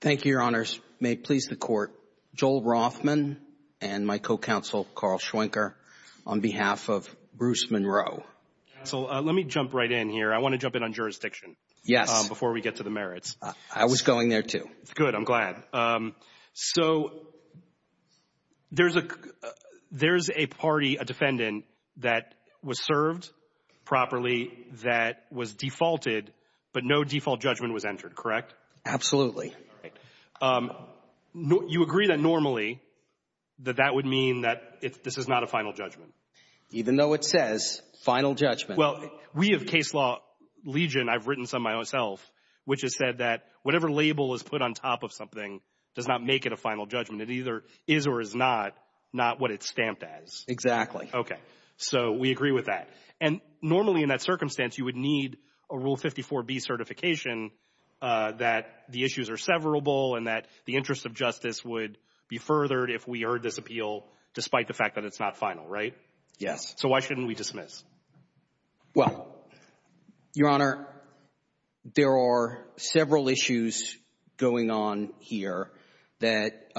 Thank you, Your Honors. May it please the Court, Joel Rothman and my co-counsel, Carl Schwenker, on behalf of Bruce Munro. Counsel, let me jump right in here. I want to jump in on jurisdiction. Yes. Before we get to the merits. I was going there too. Good. I'm glad. So there's a party, a defendant, that was served properly, that was defaulted, but no default judgment was entered, correct? Absolutely. All right. You agree that normally that that would mean that this is not a final judgment? Even though it says final judgment. Well, we have case law legion, I've written some myself, which has said that whatever label is put on top of something does not make it a final judgment. It either is or is not, not what it's stamped as. Exactly. Okay. So we agree with that. And normally in that circumstance, you would need a Rule 54B certification that the issues are severable and that the interest of justice would be furthered if we heard this appeal, despite the fact that it's not final, right? Yes. So why shouldn't we dismiss? Well, Your Honor, there are several issues going on here that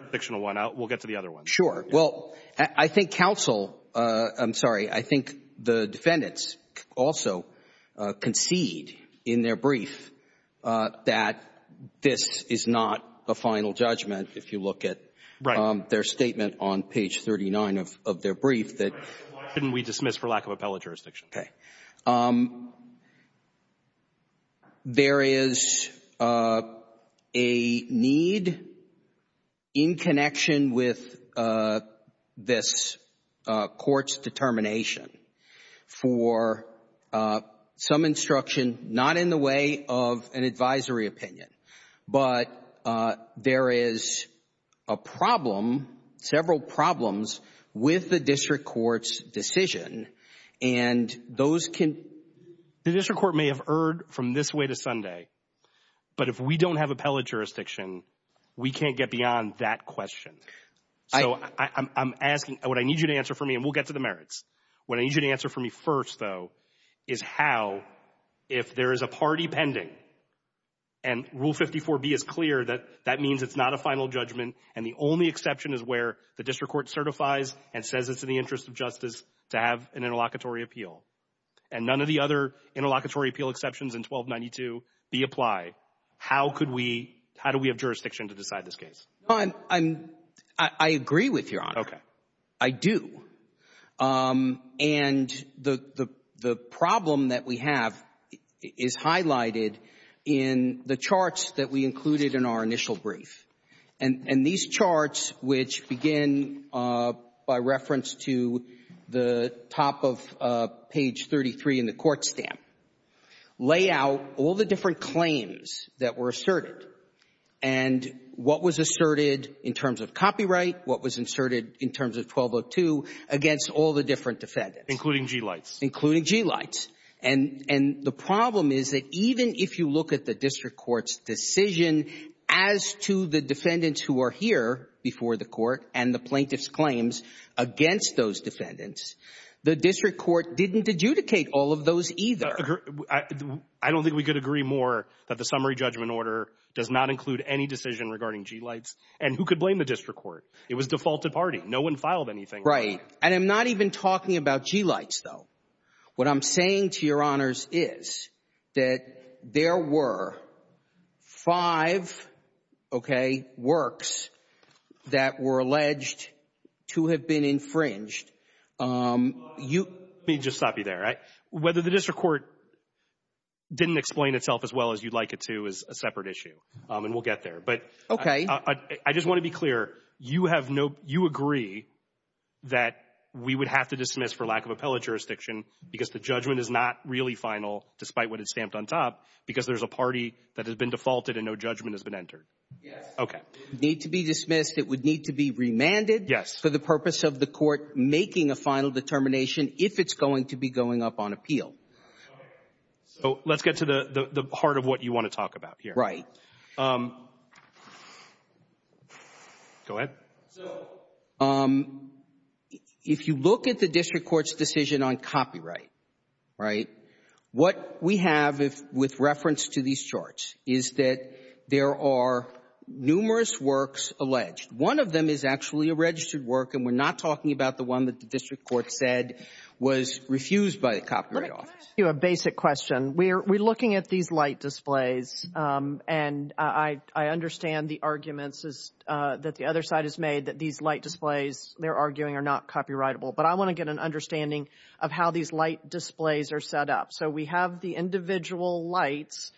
— Fictional one. We'll get to the other one. Sure. Well, I think counsel — I'm sorry. I think the defendants also concede in their brief that this is not a final judgment if you look at their statement on page 39 of their brief that — Why shouldn't we dismiss for lack of appellate jurisdiction? Okay. There is a need in connection with this court's determination for some instruction, not in the way of an advisory opinion, but there is a problem, several problems, with the district court's decision. And those can — The district court may have erred from this way to Sunday, but if we don't have appellate jurisdiction, we can't get beyond that question. So I'm asking — what I need you to answer for me, and we'll get to the merits. What I need you to answer for me first, though, is how, if there is a party pending, and Rule 54B is clear that that means it's not a final judgment, and the only exception is where the district court certifies and says it's in the interest of justice to have an interlocutory appeal, and none of the other interlocutory appeal exceptions in 1292 be applied, how could we — how do we have jurisdiction to decide this case? I agree with Your Honor. Okay. I do. And the problem that we have is highlighted in the charts that we included in our initial brief. And these charts, which begin by reference to the top of page 33 in the court stamp, lay out all the different claims that were asserted and what was asserted in terms of copyright, what was asserted in terms of 1202 against all the different defendants. Including G-lights. Including G-lights. And the problem is that even if you look at the district court's decision as to the defendants who are here before the court and the plaintiff's claims against those defendants, the district court didn't adjudicate all of those either. I don't think we could agree more that the summary judgment order does not include any decision regarding G-lights, and who could blame the district court? It was defaulted party. No one filed anything. Right. And I'm not even talking about G-lights, though. What I'm saying to Your Honors is that there were five, okay, works that were alleged to have been infringed. Let me just stop you there. Whether the district court didn't explain itself as well as you'd like it to is a separate issue. And we'll get there. Okay. I just want to be clear. You agree that we would have to dismiss for lack of appellate jurisdiction because the judgment is not really final, despite what it's stamped on top, because there's a party that has been defaulted and no judgment has been entered? Yes. Okay. It would need to be dismissed. It would need to be remanded. Yes. For the purpose of the court making a final determination if it's going to be going up on appeal. So let's get to the heart of what you want to talk about here. Right. Go ahead. So if you look at the district court's decision on copyright, right, what we have with reference to these charts is that there are numerous works alleged. One of them is actually a registered work, and we're not talking about the one that the district court said was refused by the Copyright Office. Let me ask you a basic question. We're looking at these light displays, and I understand the arguments that the other side has made that these light displays, they're arguing, are not copyrightable. But I want to get an understanding of how these light displays are set up. So we have the individual lights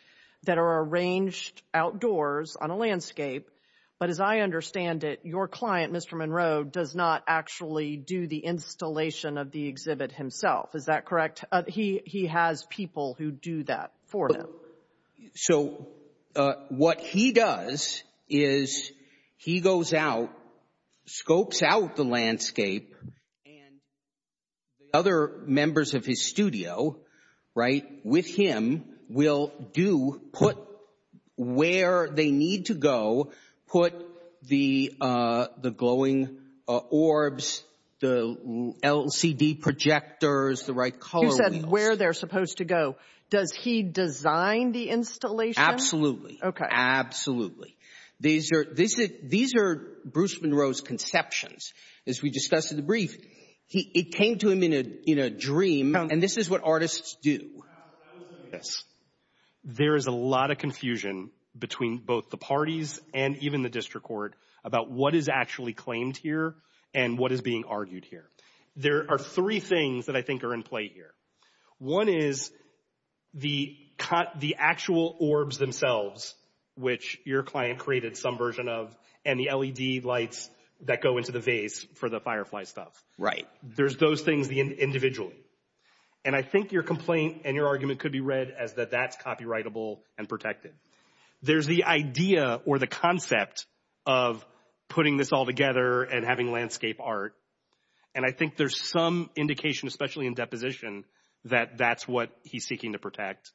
that are arranged outdoors on a landscape, but as I understand it, your client, Mr. Monroe, does not actually do the installation of the exhibit himself. Is that correct? He has people who do that for him. So what he does is he goes out, scopes out the landscape, and the other members of his studio, right, with him will do, put where they need to go, put the glowing orbs, the LCD projectors, the right color wheels. You said where they're supposed to go. Does he design the installation? Absolutely. Okay. Absolutely. These are Bruce Monroe's conceptions. As we discussed in the brief, it came to him in a dream, and this is what artists do. There is a lot of confusion between both the parties and even the district court about what is actually claimed here and what is being argued here. There are three things that I think are in play here. One is the actual orbs themselves, which your client created some version of, and the LED lights that go into the vase for the firefly stuff. Right. There's those things individually. And I think your complaint and your argument could be read as that that's copyrightable and protected. There's the idea or the concept of putting this all together and having landscape art, and I think there's some indication, especially in deposition, that that's what he's seeking to protect.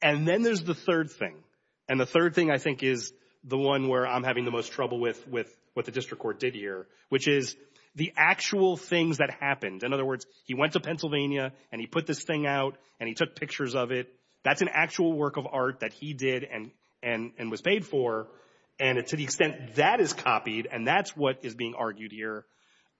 And then there's the third thing, and the third thing I think is the one where I'm having the most trouble with what the district court did here, which is the actual things that happened. In other words, he went to Pennsylvania, and he put this thing out, and he took pictures of it. That's an actual work of art that he did and was paid for, and to the extent that is copied and that's what is being argued here,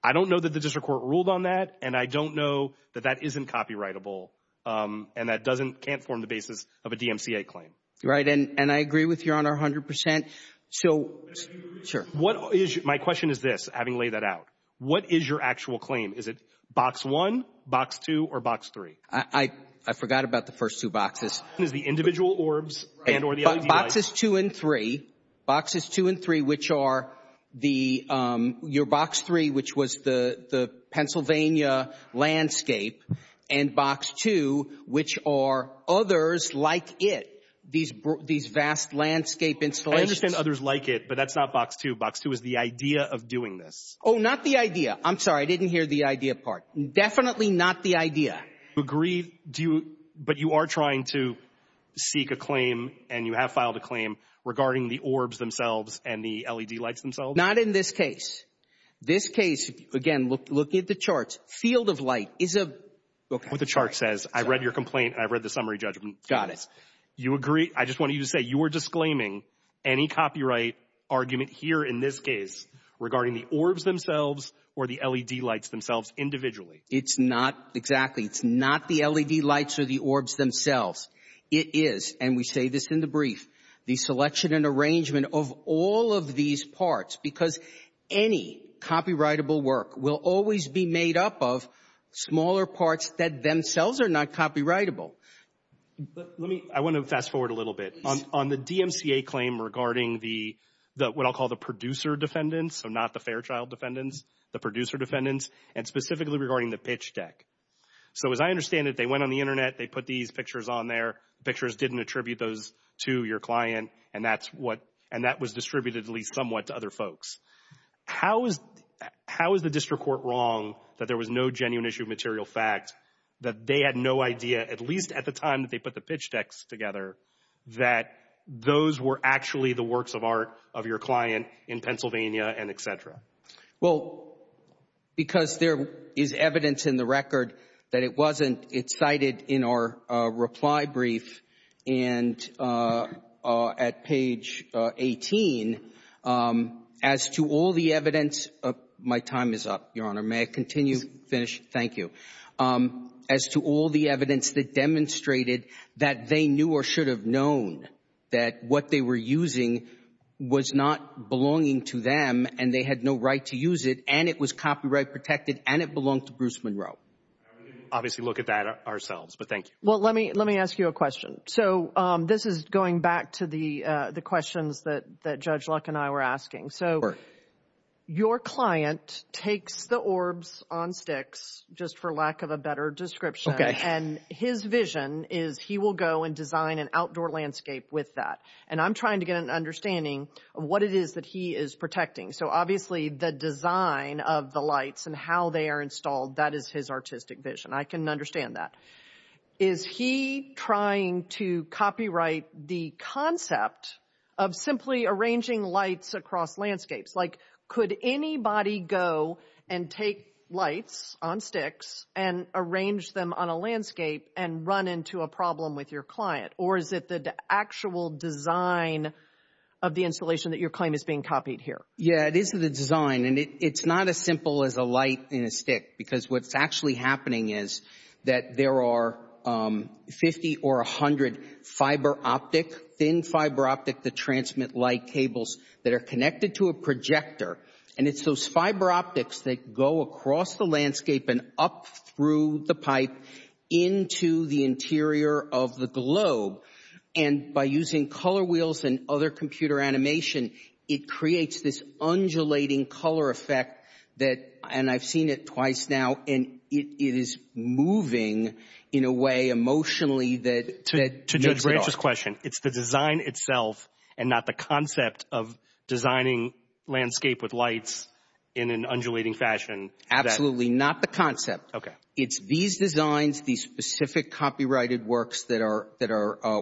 I don't know that the district court ruled on that, and I don't know that that isn't copyrightable, and that can't form the basis of a DMCA claim. Right, and I agree with your honor 100 percent. Sir? My question is this, having laid that out. What is your actual claim? Is it Box 1, Box 2, or Box 3? I forgot about the first two boxes. Is it the individual orbs? Boxes 2 and 3, which are your Box 3, which was the Pennsylvania landscape, and Box 2, which are others like it, these vast landscape installations. Well, I understand others like it, but that's not Box 2. Box 2 is the idea of doing this. Oh, not the idea. I'm sorry, I didn't hear the idea part. Definitely not the idea. Do you agree, but you are trying to seek a claim, and you have filed a claim, regarding the orbs themselves and the LED lights themselves? Not in this case. This case, again, looking at the charts, field of light is a... Look at what the chart says. I've read your complaint, and I've read the summary judgment. Got it. You agree? I just want you to say you are disclaiming any copyright argument here in this case regarding the orbs themselves or the LED lights themselves individually. It's not exactly. It's not the LED lights or the orbs themselves. It is, and we say this in the brief, the selection and arrangement of all of these parts, because any copyrightable work will always be made up of smaller parts that themselves are not copyrightable. I want to fast forward a little bit. On the DMCA claim regarding what I'll call the producer defendants, so not the Fairchild defendants, the producer defendants, and specifically regarding the pitch deck. So as I understand it, they went on the Internet, they put these pictures on there. Pictures didn't attribute those to your client, and that was distributed at least somewhat to other folks. How is the district court wrong that there was no genuine issue of material fact, that they had no idea, at least at the time that they put the pitch decks together, that those were actually the works of art of your client in Pennsylvania and et cetera? Well, because there is evidence in the record that it wasn't, it's cited in our reply brief and at page 18, as to all the evidence, my time is up, Your Honor. May I continue, finish? Yes. Thank you. As to all the evidence that demonstrated that they knew or should have known that what they were using was not belonging to them and they had no right to use it, and it was copyright protected, and it belonged to Bruce Monroe. We can obviously look at that ourselves, but thank you. Well, let me ask you a question. So this is going back to the questions that Judge Luck and I were asking. So your client takes the orbs on sticks, just for lack of a better description, and his vision is he will go and design an outdoor landscape with that, and I'm trying to get an understanding of what it is that he is protecting. So obviously the design of the lights and how they are installed, that is his artistic vision. I can understand that. Is he trying to copyright the concept of simply arranging lights across landscapes? Like could anybody go and take lights on sticks and arrange them on a landscape and run into a problem with your client? Or is it the actual design of the installation that your claim is being copied here? Yeah, it is the design, and it's not as simple as a light and a stick because what's actually happening is that there are 50 or 100 fiber optic, thin fiber optic that transmit light cables that are connected to a projector, and it's those fiber optics that go across the landscape and up through the pipe into the interior of the globe. And by using color wheels and other computer animation, it creates this undulating color effect that, and I've seen it twice now, and it is moving in a way emotionally that makes it art. To Judge Branch's question, it's the design itself and not the concept of designing landscape with lights in an undulating fashion? Absolutely not the concept. Okay. It's these designs, these specific copyrighted works that are,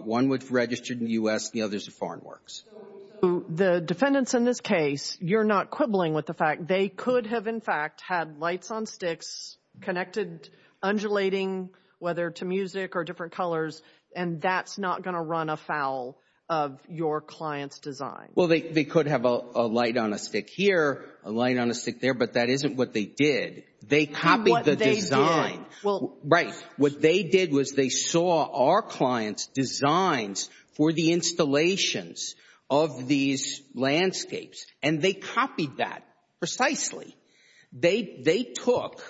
one was registered in the U.S. and the others are foreign works. So the defendants in this case, you're not quibbling with the fact they could have, in fact, had lights on sticks connected undulating, whether to music or different colors, and that's not going to run afoul of your client's design? Well, they could have a light on a stick here, a light on a stick there, but that isn't what they did. They copied the design. What they did? What they did was they saw our client's designs for the installations of these landscapes, and they copied that precisely. They took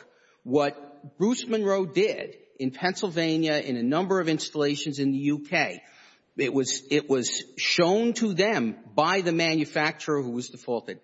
what Bruce Monroe did in Pennsylvania, in a number of installations in the U.K. It was shown to them by the manufacturer who was defaulted,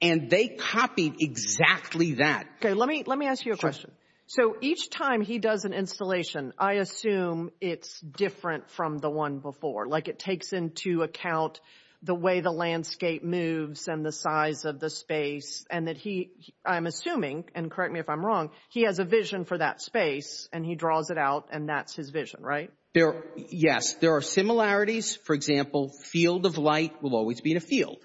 and they copied exactly that. Okay, let me ask you a question. Sure. So each time he does an installation, I assume it's different from the one before, like it takes into account the way the landscape moves and the size of the space, and that he, I'm assuming, and correct me if I'm wrong, he has a vision for that space, and he draws it out, and that's his vision, right? Yes, there are similarities. For example, field of light will always be in a field.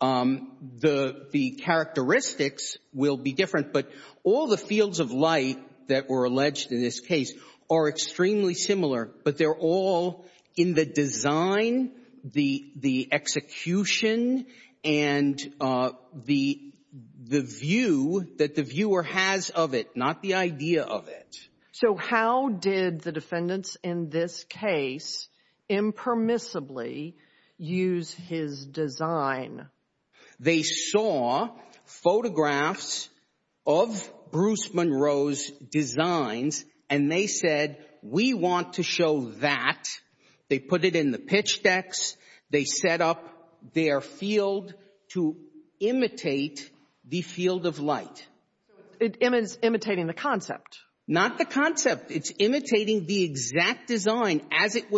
The characteristics will be different, but all the fields of light that were alleged in this case are extremely similar, but they're all in the design, the execution, and the view that the viewer has of it, not the idea of it. So how did the defendants in this case impermissibly use his design? They saw photographs of Bruce Monroe's designs, and they said, we want to show that. They put it in the pitch decks. They set up their field to imitate the field of light. So it's imitating the concept. Not the concept. It's imitating the exact design as it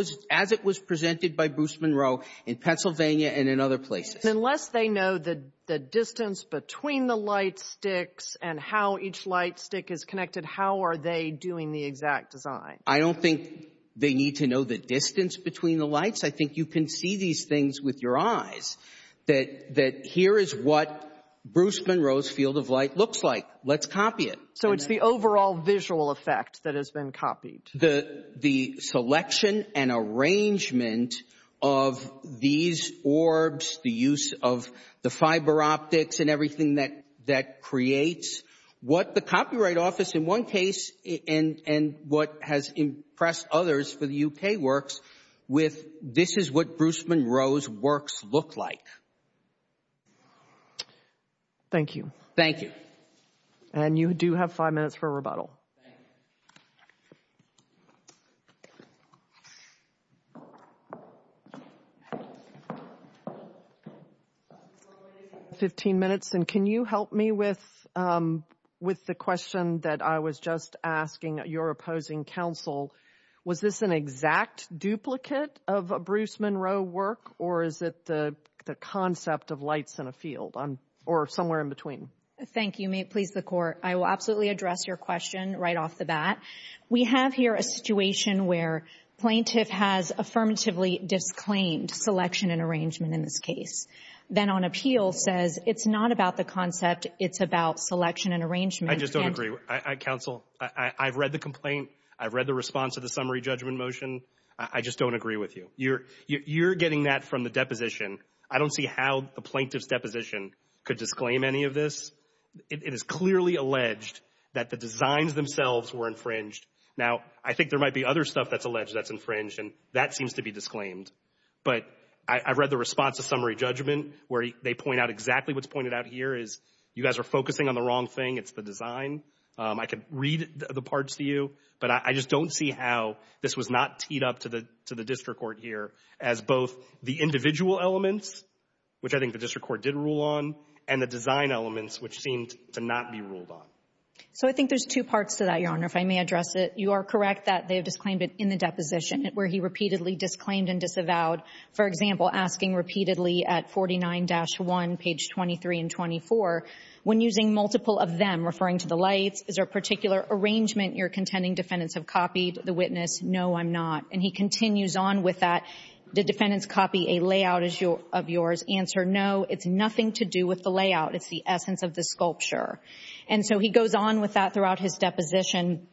was presented by Bruce Monroe in Pennsylvania and in other places. Unless they know the distance between the light sticks and how each light stick is connected, how are they doing the exact design? I don't think they need to know the distance between the lights. I think you can see these things with your eyes, that here is what Bruce Monroe's field of light looks like. Let's copy it. So it's the overall visual effect that has been copied. The selection and arrangement of these orbs, the use of the fiber optics and everything that creates, what the Copyright Office in one case, and what has impressed others for the U.K. works, with this is what Bruce Monroe's works look like. Thank you. Thank you. And you do have five minutes for rebuttal. Thank you. Fifteen minutes, and can you help me with the question that I was just asking your opposing counsel? Was this an exact duplicate of a Bruce Monroe work, or is it the concept of lights in a field or somewhere in between? Thank you. Please, the Court. I will absolutely address your question right off the bat. We have here a situation where plaintiff has affirmatively disclaimed selection and arrangement in this case, then on appeal says it's not about the concept, it's about selection and arrangement. I just don't agree. Counsel, I've read the complaint. I've read the response to the summary judgment motion. I just don't agree with you. You're getting that from the deposition. I don't see how the plaintiff's deposition could disclaim any of this. It is clearly alleged that the designs themselves were infringed. Now, I think there might be other stuff that's alleged that's infringed, and that seems to be disclaimed. But I've read the response to summary judgment where they point out exactly what's pointed out here is you guys are focusing on the wrong thing. It's the design. I can read the parts to you, but I just don't see how this was not teed up to the district court here as both the individual elements, which I think the district court did rule on, and the design elements, which seemed to not be ruled on. So I think there's two parts to that, Your Honor, if I may address it. You are correct that they have disclaimed it in the deposition where he repeatedly disclaimed and disavowed, for example, asking repeatedly at 49-1, page 23 and 24, when using multiple of them, referring to the lights, is there a particular arrangement you're contending defendants have copied the witness? No, I'm not. And he continues on with that. Did defendants copy a layout of yours? Answer, no. It's nothing to do with the layout. It's the essence of the sculpture. And so he goes on with that throughout his deposition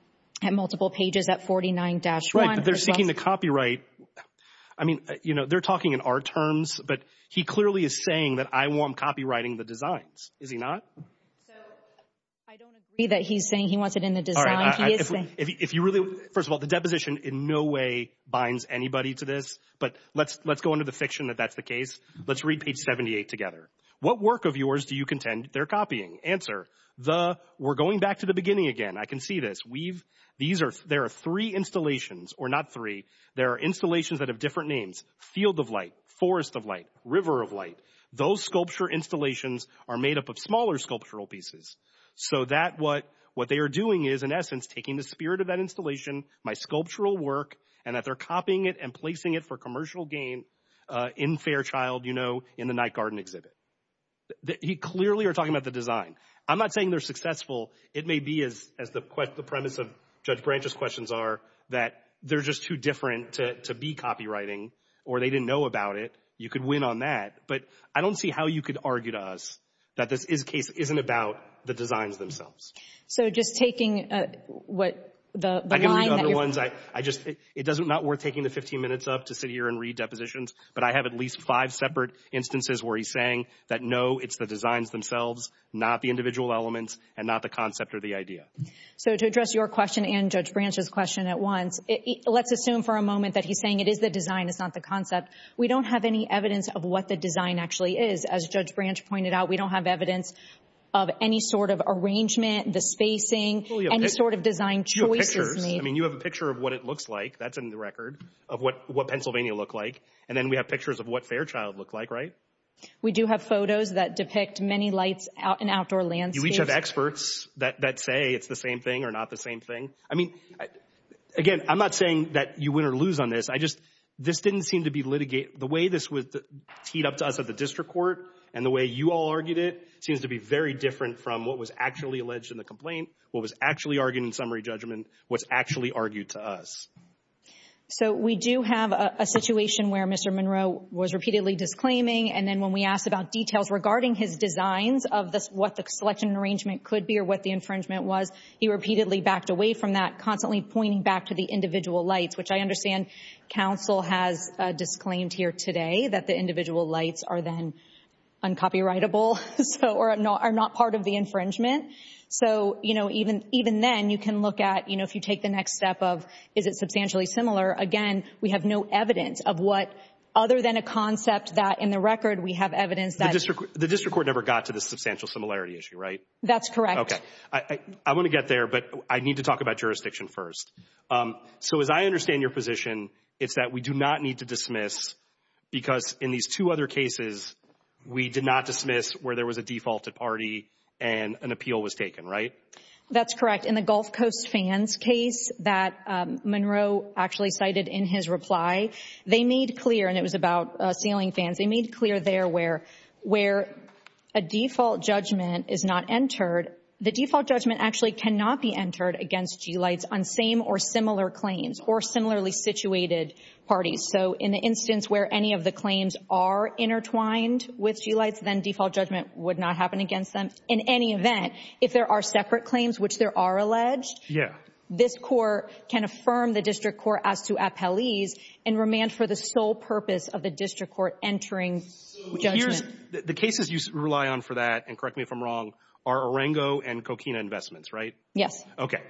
at multiple pages at 49-1. Right, but they're seeking the copyright. I mean, you know, they're talking in our terms, but he clearly is saying that I want him copywriting the designs. Is he not? So I don't agree that he's saying he wants it in the design. He is saying. First of all, the deposition in no way binds anybody to this, but let's go into the fiction that that's the case. Let's read page 78 together. What work of yours do you contend they're copying? Answer, we're going back to the beginning again. I can see this. There are three installations, or not three. There are installations that have different names. Field of Light, Forest of Light, River of Light. Those sculpture installations are made up of smaller sculptural pieces. So what they are doing is, in essence, taking the spirit of that installation, my sculptural work, and that they're copying it and placing it for commercial gain in Fairchild, you know, in the night garden exhibit. He clearly are talking about the design. I'm not saying they're successful. It may be, as the premise of Judge Branch's questions are, that they're just too different to be copywriting, or they didn't know about it. You could win on that, but I don't see how you could argue to us that this case isn't about the designs themselves. So just taking what the line that you're from. It's not worth taking the 15 minutes up to sit here and read depositions, but I have at least five separate instances where he's saying that, no, it's the designs themselves, not the individual elements, and not the concept or the idea. So to address your question and Judge Branch's question at once, let's assume for a moment that he's saying it is the design, it's not the concept. We don't have any evidence of what the design actually is. As Judge Branch pointed out, we don't have evidence of any sort of arrangement, the spacing, any sort of design choices. I mean, you have a picture of what it looks like. That's in the record of what Pennsylvania looked like. And then we have pictures of what Fairchild looked like, right? We do have photos that depict many lights in outdoor landscapes. You each have experts that say it's the same thing or not the same thing. I mean, again, I'm not saying that you win or lose on this. I just, this didn't seem to be litigated. The way this was teed up to us at the district court and the way you all argued it seems to be very different from what was actually alleged in the complaint, what was actually argued in summary judgment, what's actually argued to us. So we do have a situation where Mr. Monroe was repeatedly disclaiming and then when we asked about details regarding his designs of what the selection and arrangement could be or what the infringement was, he repeatedly backed away from that, constantly pointing back to the individual lights, which I understand counsel has disclaimed here today that the individual lights are then uncopyrightable or are not part of the infringement. So, you know, even then you can look at, you know, if you take the next step of is it substantially similar. Again, we have no evidence of what, other than a concept that in the record we have evidence that. The district court never got to the substantial similarity issue, right? That's correct. Okay. I want to get there, but I need to talk about jurisdiction first. So as I understand your position, it's that we do not need to dismiss because in these two other cases we did not dismiss where there was a defaulted party and an appeal was taken, right? That's correct. In the Gulf Coast fans case that Monroe actually cited in his reply, they made clear, and it was about sailing fans, they made clear there where a default judgment is not entered. The default judgment actually cannot be entered against G-lights on same or similar claims or similarly situated parties. Then default judgment would not happen against them. In any event, if there are separate claims which there are alleged, this court can affirm the district court as to appellees and remand for the sole purpose of the district court entering judgment. The cases you rely on for that, and correct me if I'm wrong, are Orango and Coquina investments, right? Yes. Okay.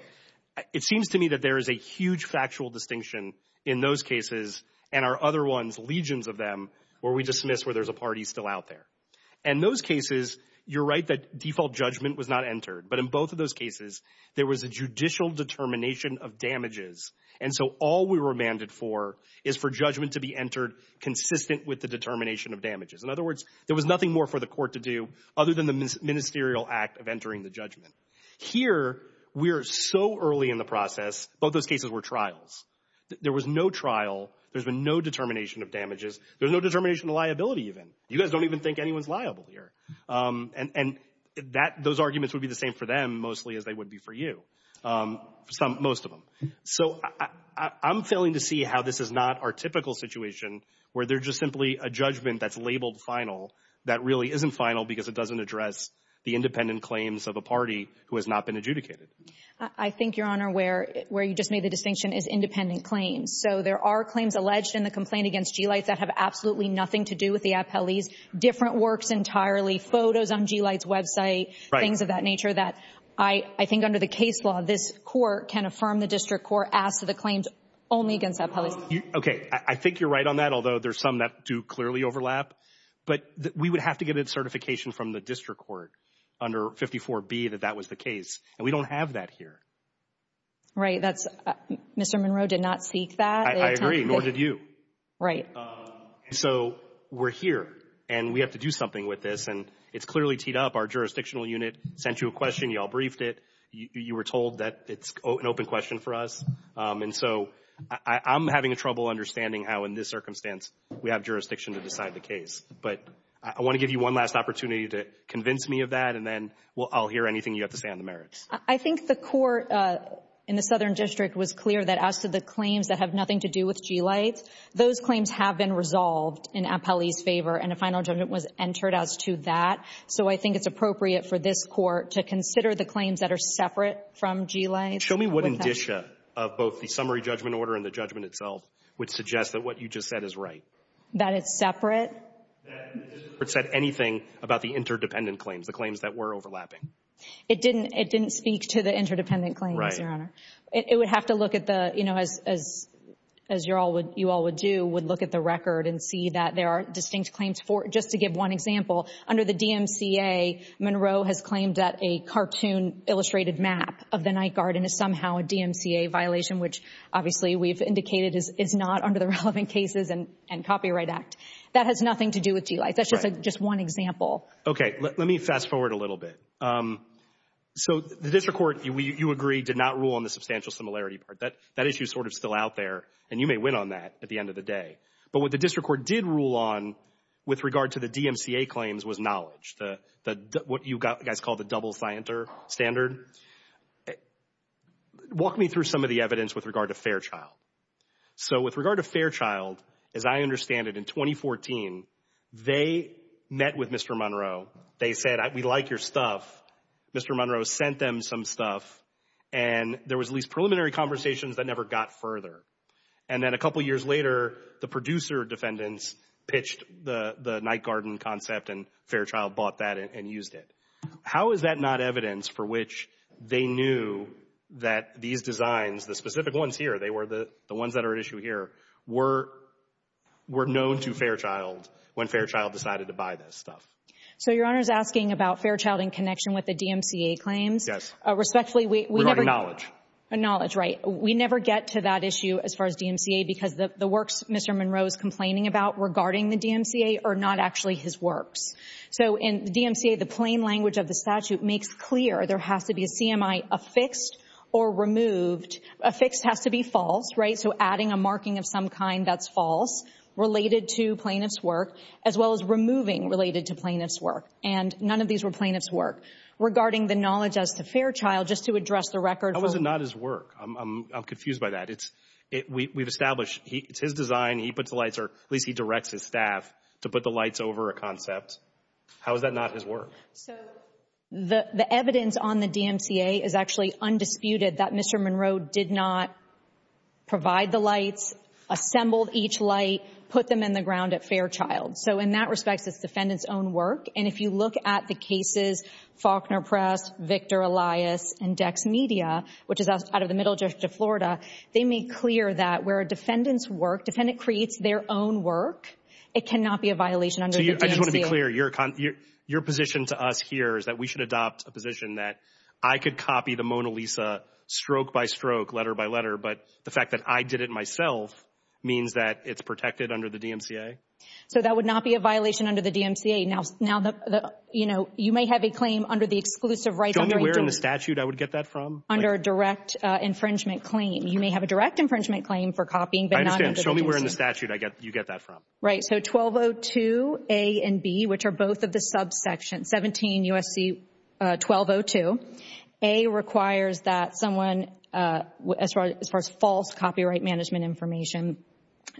It seems to me that there is a huge factual distinction in those cases and our other ones, legions of them, where we dismiss where there's a party still out there. In those cases, you're right that default judgment was not entered, but in both of those cases, there was a judicial determination of damages, and so all we were remanded for is for judgment to be entered consistent with the determination of damages. In other words, there was nothing more for the court to do other than the ministerial act of entering the judgment. Here, we are so early in the process. Both those cases were trials. There was no trial. There's been no determination of damages. There's no determination of liability even. You guys don't even think anyone's liable here. And those arguments would be the same for them, mostly, as they would be for you, most of them. So I'm failing to see how this is not our typical situation where there's just simply a judgment that's labeled final that really isn't final because it doesn't address the independent claims of a party who has not been adjudicated. I think, Your Honor, where you just made the distinction is independent claims. So there are claims alleged in the complaint against G. Lights that have absolutely nothing to do with the appellees, different works entirely, photos on G. Lights' website, things of that nature that I think under the case law, this court can affirm the district court as to the claims only against appellees. Okay. I think you're right on that, although there's some that do clearly overlap. But we would have to get a certification from the district court under 54B that that was the case, and we don't have that here. Right. Mr. Monroe did not seek that. I agree. Nor did you. Right. So we're here, and we have to do something with this. And it's clearly teed up. Our jurisdictional unit sent you a question. You all briefed it. You were told that it's an open question for us. And so I'm having trouble understanding how in this circumstance we have jurisdiction to decide the case. But I want to give you one last opportunity to convince me of that, and then I'll hear anything you have to say on the merits. I think the court in the Southern District was clear that as to the claims that have nothing to do with G-lights, those claims have been resolved in appellee's favor, and a final judgment was entered as to that. So I think it's appropriate for this court to consider the claims that are separate from G-lights. Show me what indicia of both the summary judgment order and the judgment itself would suggest that what you just said is right. That it's separate. That the district court said anything about the interdependent claims, the claims that were overlapping. It didn't speak to the interdependent claims, Your Honor. Right. It would have to look at the, you know, as you all would do, would look at the record and see that there are distinct claims. Just to give one example, under the DMCA, Monroe has claimed that a cartoon illustrated map of the night garden is somehow a DMCA violation, which obviously we've indicated is not under the relevant cases and Copyright Act. That has nothing to do with G-lights. That's just one example. Okay. Let me fast forward a little bit. So the district court, you agree, did not rule on the substantial similarity part. That issue is sort of still out there, and you may win on that at the end of the day. But what the district court did rule on with regard to the DMCA claims was knowledge, what you guys call the double standard. Walk me through some of the evidence with regard to Fairchild. So with regard to Fairchild, as I understand it, in 2014, they met with Mr. Monroe. They said, we like your stuff. Mr. Monroe sent them some stuff, and there was at least preliminary conversations that never got further. And then a couple years later, the producer defendants pitched the night garden concept, and Fairchild bought that and used it. How is that not evidence for which they knew that these designs, the specific ones here, they were the ones that are at issue here, were known to Fairchild when Fairchild decided to buy this stuff? So Your Honor is asking about Fairchild in connection with the DMCA claims. Yes. Respectfully, we never — Regarding knowledge. Knowledge, right. We never get to that issue as far as DMCA because the works Mr. Monroe is complaining about regarding the DMCA are not actually his works. So in the DMCA, the plain language of the statute makes clear there has to be a CMI affixed or removed. Affixed has to be false, right, so adding a marking of some kind that's false related to plaintiff's work, as well as removing related to plaintiff's work. And none of these were plaintiff's work. Regarding the knowledge as to Fairchild, just to address the record. How is it not his work? I'm confused by that. We've established it's his design, he puts the lights, or at least he directs his staff to put the lights over a concept. How is that not his work? So the evidence on the DMCA is actually undisputed that Mr. Monroe did not provide the lights, assembled each light, put them in the ground at Fairchild. So in that respect, it's defendant's own work. And if you look at the cases, Faulkner Press, Victor Elias, and Dex Media, which is out of the Middle District of Florida, they make clear that where a defendant's work, defendant creates their own work, it cannot be a violation under the DMCA. I just want to be clear, your position to us here is that we should adopt a position that I could copy the Mona Lisa stroke by stroke, letter by letter, but the fact that I did it myself means that it's protected under the DMCA? So that would not be a violation under the DMCA. Now, you know, you may have a claim under the exclusive right under a d- Show me where in the statute I would get that from. Under a direct infringement claim. You may have a direct infringement claim for copying, but not under the DMCA. I understand. Show me where in the statute you get that from. Right. So 1202 A and B, which are both of the subsection, 17 U.S.C. 1202, A requires that someone, as far as false copyright management information,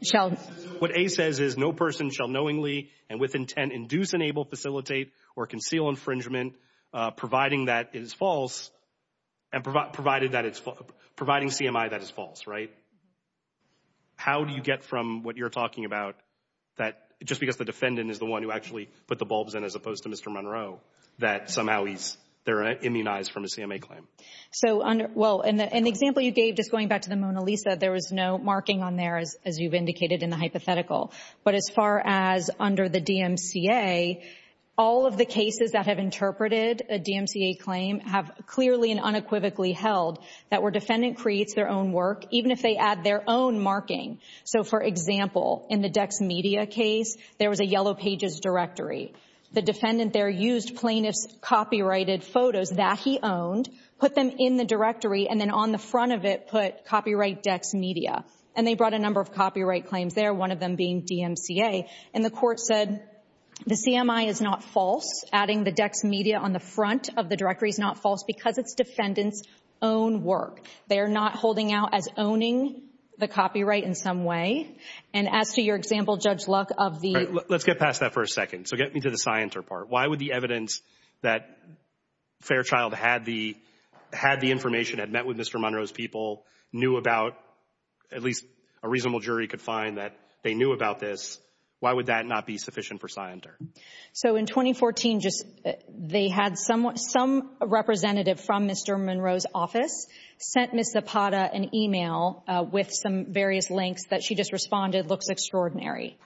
shall- What A says is no person shall knowingly and with intent induce, enable, facilitate, or conceal infringement, providing that is false, and provided that it's- providing CMI that is false, right? How do you get from what you're talking about, that just because the defendant is the one who actually put the bulbs in as opposed to Mr. Monroe, that somehow he's- they're immunized from a CMA claim? So under- well, in the example you gave, just going back to the Mona Lisa, there was no marking on there, as you've indicated in the hypothetical. But as far as under the DMCA, all of the cases that have interpreted a DMCA claim have clearly and unequivocally held that where defendant creates their own work, even if they add their own marking. So for example, in the DexMedia case, there was a yellow pages directory. The defendant there used plaintiff's copyrighted photos that he owned, put them in the directory, and then on the front of it put copyright DexMedia. And they brought a number of copyright claims there, one of them being DMCA. And the court said the CMI is not false. Adding the DexMedia on the front of the directory is not false because it's defendant's own work. They are not holding out as owning the copyright in some way. And as to your example, Judge Luck, of the- Let's get past that for a second. So get me to the Scienter part. Why would the evidence that Fairchild had the information, had met with Mr. Monroe's people, knew about- at least a reasonable jury could find that they knew about this- why would that not be sufficient for Scienter? So in 2014, they had some representative from Mr. Monroe's office sent Ms. Zapata an email with some various links that she just responded, looks extraordinary.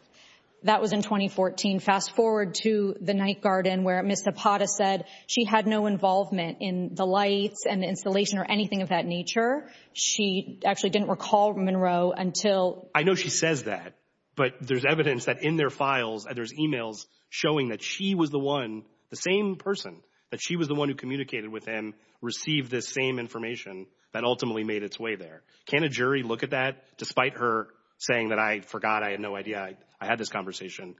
That was in 2014. Fast forward to the night garden where Ms. Zapata said she had no involvement in the lights and the installation or anything of that nature. She actually didn't recall Monroe until- I know she says that, but there's evidence that in their files, there's emails showing that she was the one, the same person, that she was the one who communicated with him, received this same information that ultimately made its way there. Can a jury look at that, despite her saying that, I forgot, I had no idea, I had this conversation,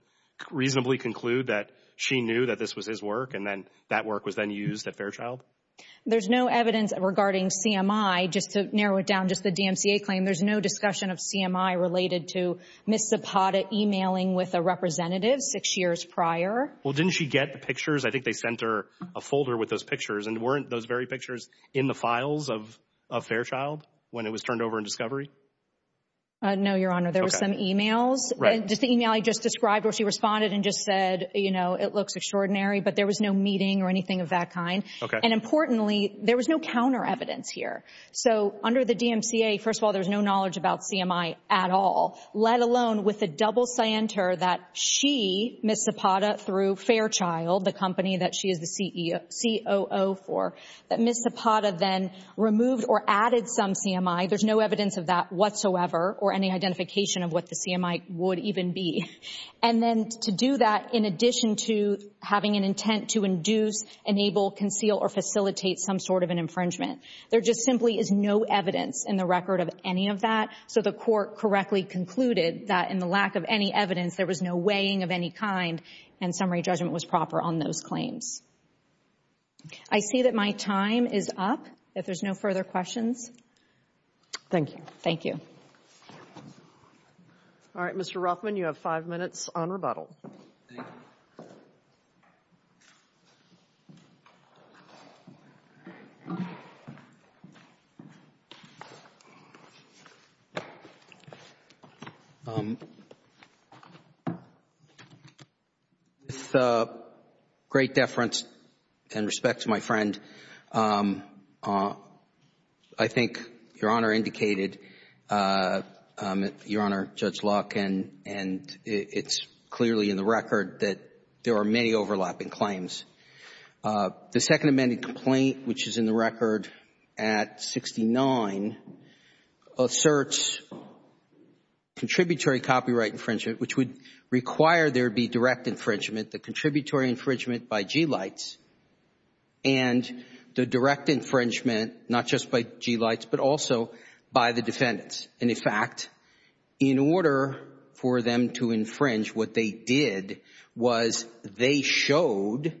reasonably conclude that she knew that this was his work and then that work was then used at Fairchild? There's no evidence regarding CMI. Just to narrow it down, just the DMCA claim, there's no discussion of CMI related to Ms. Zapata emailing with a representative six years prior. Well, didn't she get the pictures? I think they sent her a folder with those pictures, and weren't those very pictures in the files of Fairchild when it was turned over in discovery? No, Your Honor. There were some emails. Just the email I just described where she responded and just said, you know, it looks extraordinary, but there was no meeting or anything of that kind. And importantly, there was no counter evidence here. So under the DMCA, first of all, there's no knowledge about CMI at all, let alone with the double center that she, Ms. Zapata, through Fairchild, the company that she is the COO for, that Ms. Zapata then removed or added some CMI. There's no evidence of that whatsoever or any identification of what the CMI would even be. And then to do that in addition to having an intent to induce, enable, conceal, or facilitate some sort of an infringement, there just simply is no evidence in the record of any of that. So the court correctly concluded that in the lack of any evidence, there was no weighing of any kind, and summary judgment was proper on those claims. I see that my time is up. If there's no further questions. Thank you. Thank you. All right, Mr. Ruffman, you have five minutes on rebuttal. Thank you. With great deference and respect to my friend, I think Your Honor indicated, Your Honor, Judge Locke, and it's clearly in the record that there are many overlapping claims. The second amended complaint, which is in the record at 69, asserts contributory copyright infringement, which would require there be direct infringement, the contributory infringement by G-Lites, and the direct infringement not just by G-Lites, but also by the defendants. And, in fact, in order for them to infringe, what they did was they showed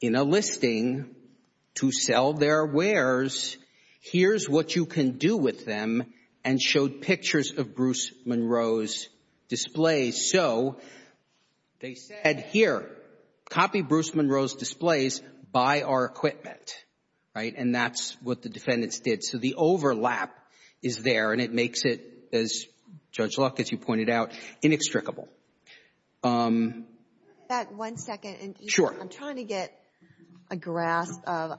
in a listing to sell their wares, here's what you can do with them, and showed pictures of Bruce Monroe's displays. So they said, here, copy Bruce Monroe's displays, buy our equipment. Right? And that's what the defendants did. So the overlap is there, and it makes it, as Judge Locke, as you pointed out, inextricable. Back one second. Sure. I'm trying to get a grasp of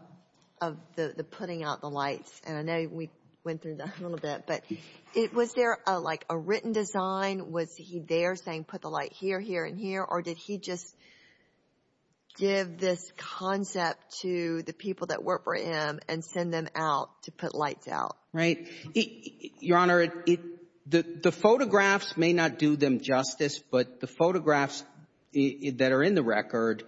the putting out the lights, and I know we went through that a little bit. But was there, like, a written design? Was he there saying put the light here, here, and here? Or did he just give this concept to the people that work for him and send them out to put lights out? Right. Your Honor, the photographs may not do them justice, but the photographs that are in the record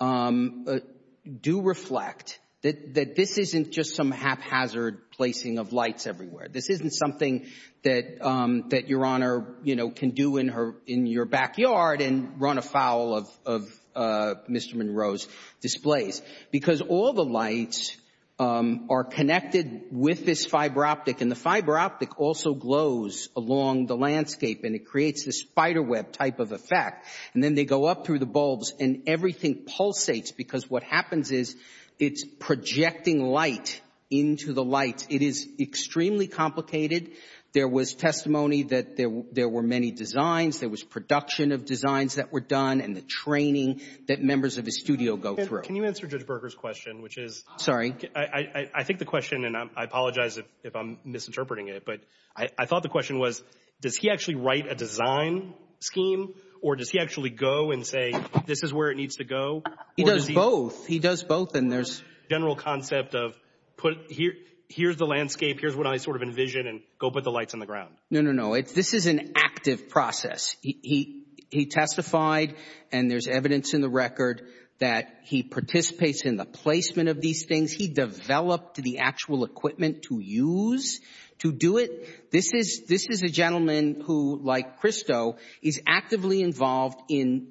do reflect that this isn't just some haphazard placing of lights everywhere. This isn't something that Your Honor can do in your backyard and run afoul of Mr. Monroe's displays. Because all the lights are connected with this fiber optic, and the fiber optic also glows along the landscape, and it creates this spiderweb type of effect. And then they go up through the bulbs and everything pulsates because what happens is it's projecting light into the light. It is extremely complicated. There was testimony that there were many designs. There was production of designs that were done and the training that members of his studio go through. Can you answer Judge Berger's question, which is? Sorry. I think the question, and I apologize if I'm misinterpreting it, but I thought the question was does he actually write a design scheme, or does he actually go and say this is where it needs to go? He does both. He does both. And there's a general concept of here's the landscape, here's what I sort of envision, and go put the lights on the ground. No, no, no. This is an active process. He testified, and there's evidence in the record, that he participates in the placement of these things. He developed the actual equipment to use to do it. This is a gentleman who, like Christo, is actively involved in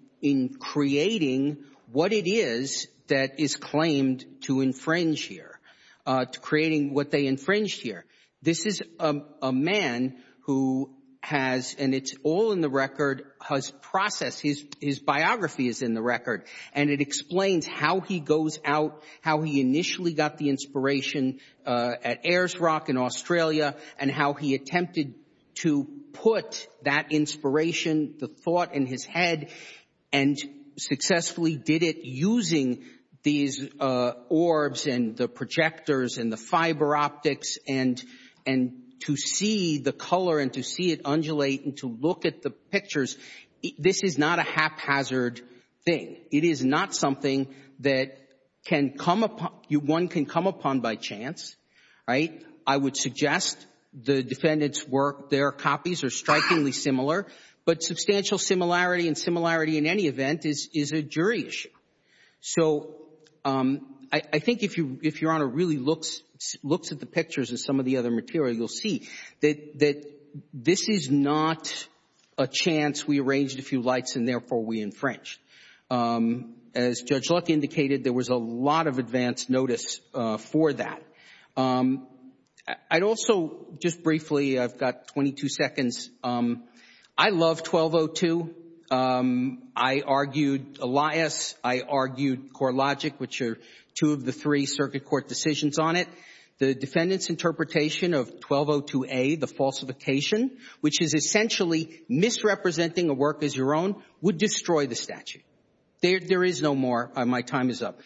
creating what it is that is claimed to infringe here, to creating what they infringed here. This is a man who has, and it's all in the record, his process, his biography is in the record, and it explains how he goes out, how he initially got the inspiration at Ayers Rock in Australia, and how he attempted to put that inspiration, the thought in his head, and successfully did it using these orbs and the projectors and the fiber optics and to see the color and to see it undulate and to look at the pictures. This is not a haphazard thing. It is not something that one can come upon by chance, right? I would suggest the defendant's work, their copies are strikingly similar, but substantial similarity and similarity in any event is a jury issue. So I think if Your Honor really looks at the pictures and some of the other material, you'll see that this is not a chance we arranged a few lights and therefore we infringed. As Judge Luck indicated, there was a lot of advance notice for that. I'd also, just briefly, I've got 22 seconds. I love 1202. I argued Elias. I argued CoreLogic, which are two of the three circuit court decisions on it. The defendant's interpretation of 1202A, the falsification, which is essentially misrepresenting a work as your own, would destroy the statute. There is no more. My time is up.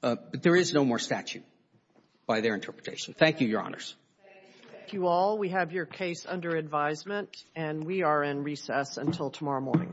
But there is no more statute by their interpretation. Thank you, Your Honors. Thank you all. We have your case under advisement, and we are in recess until tomorrow morning.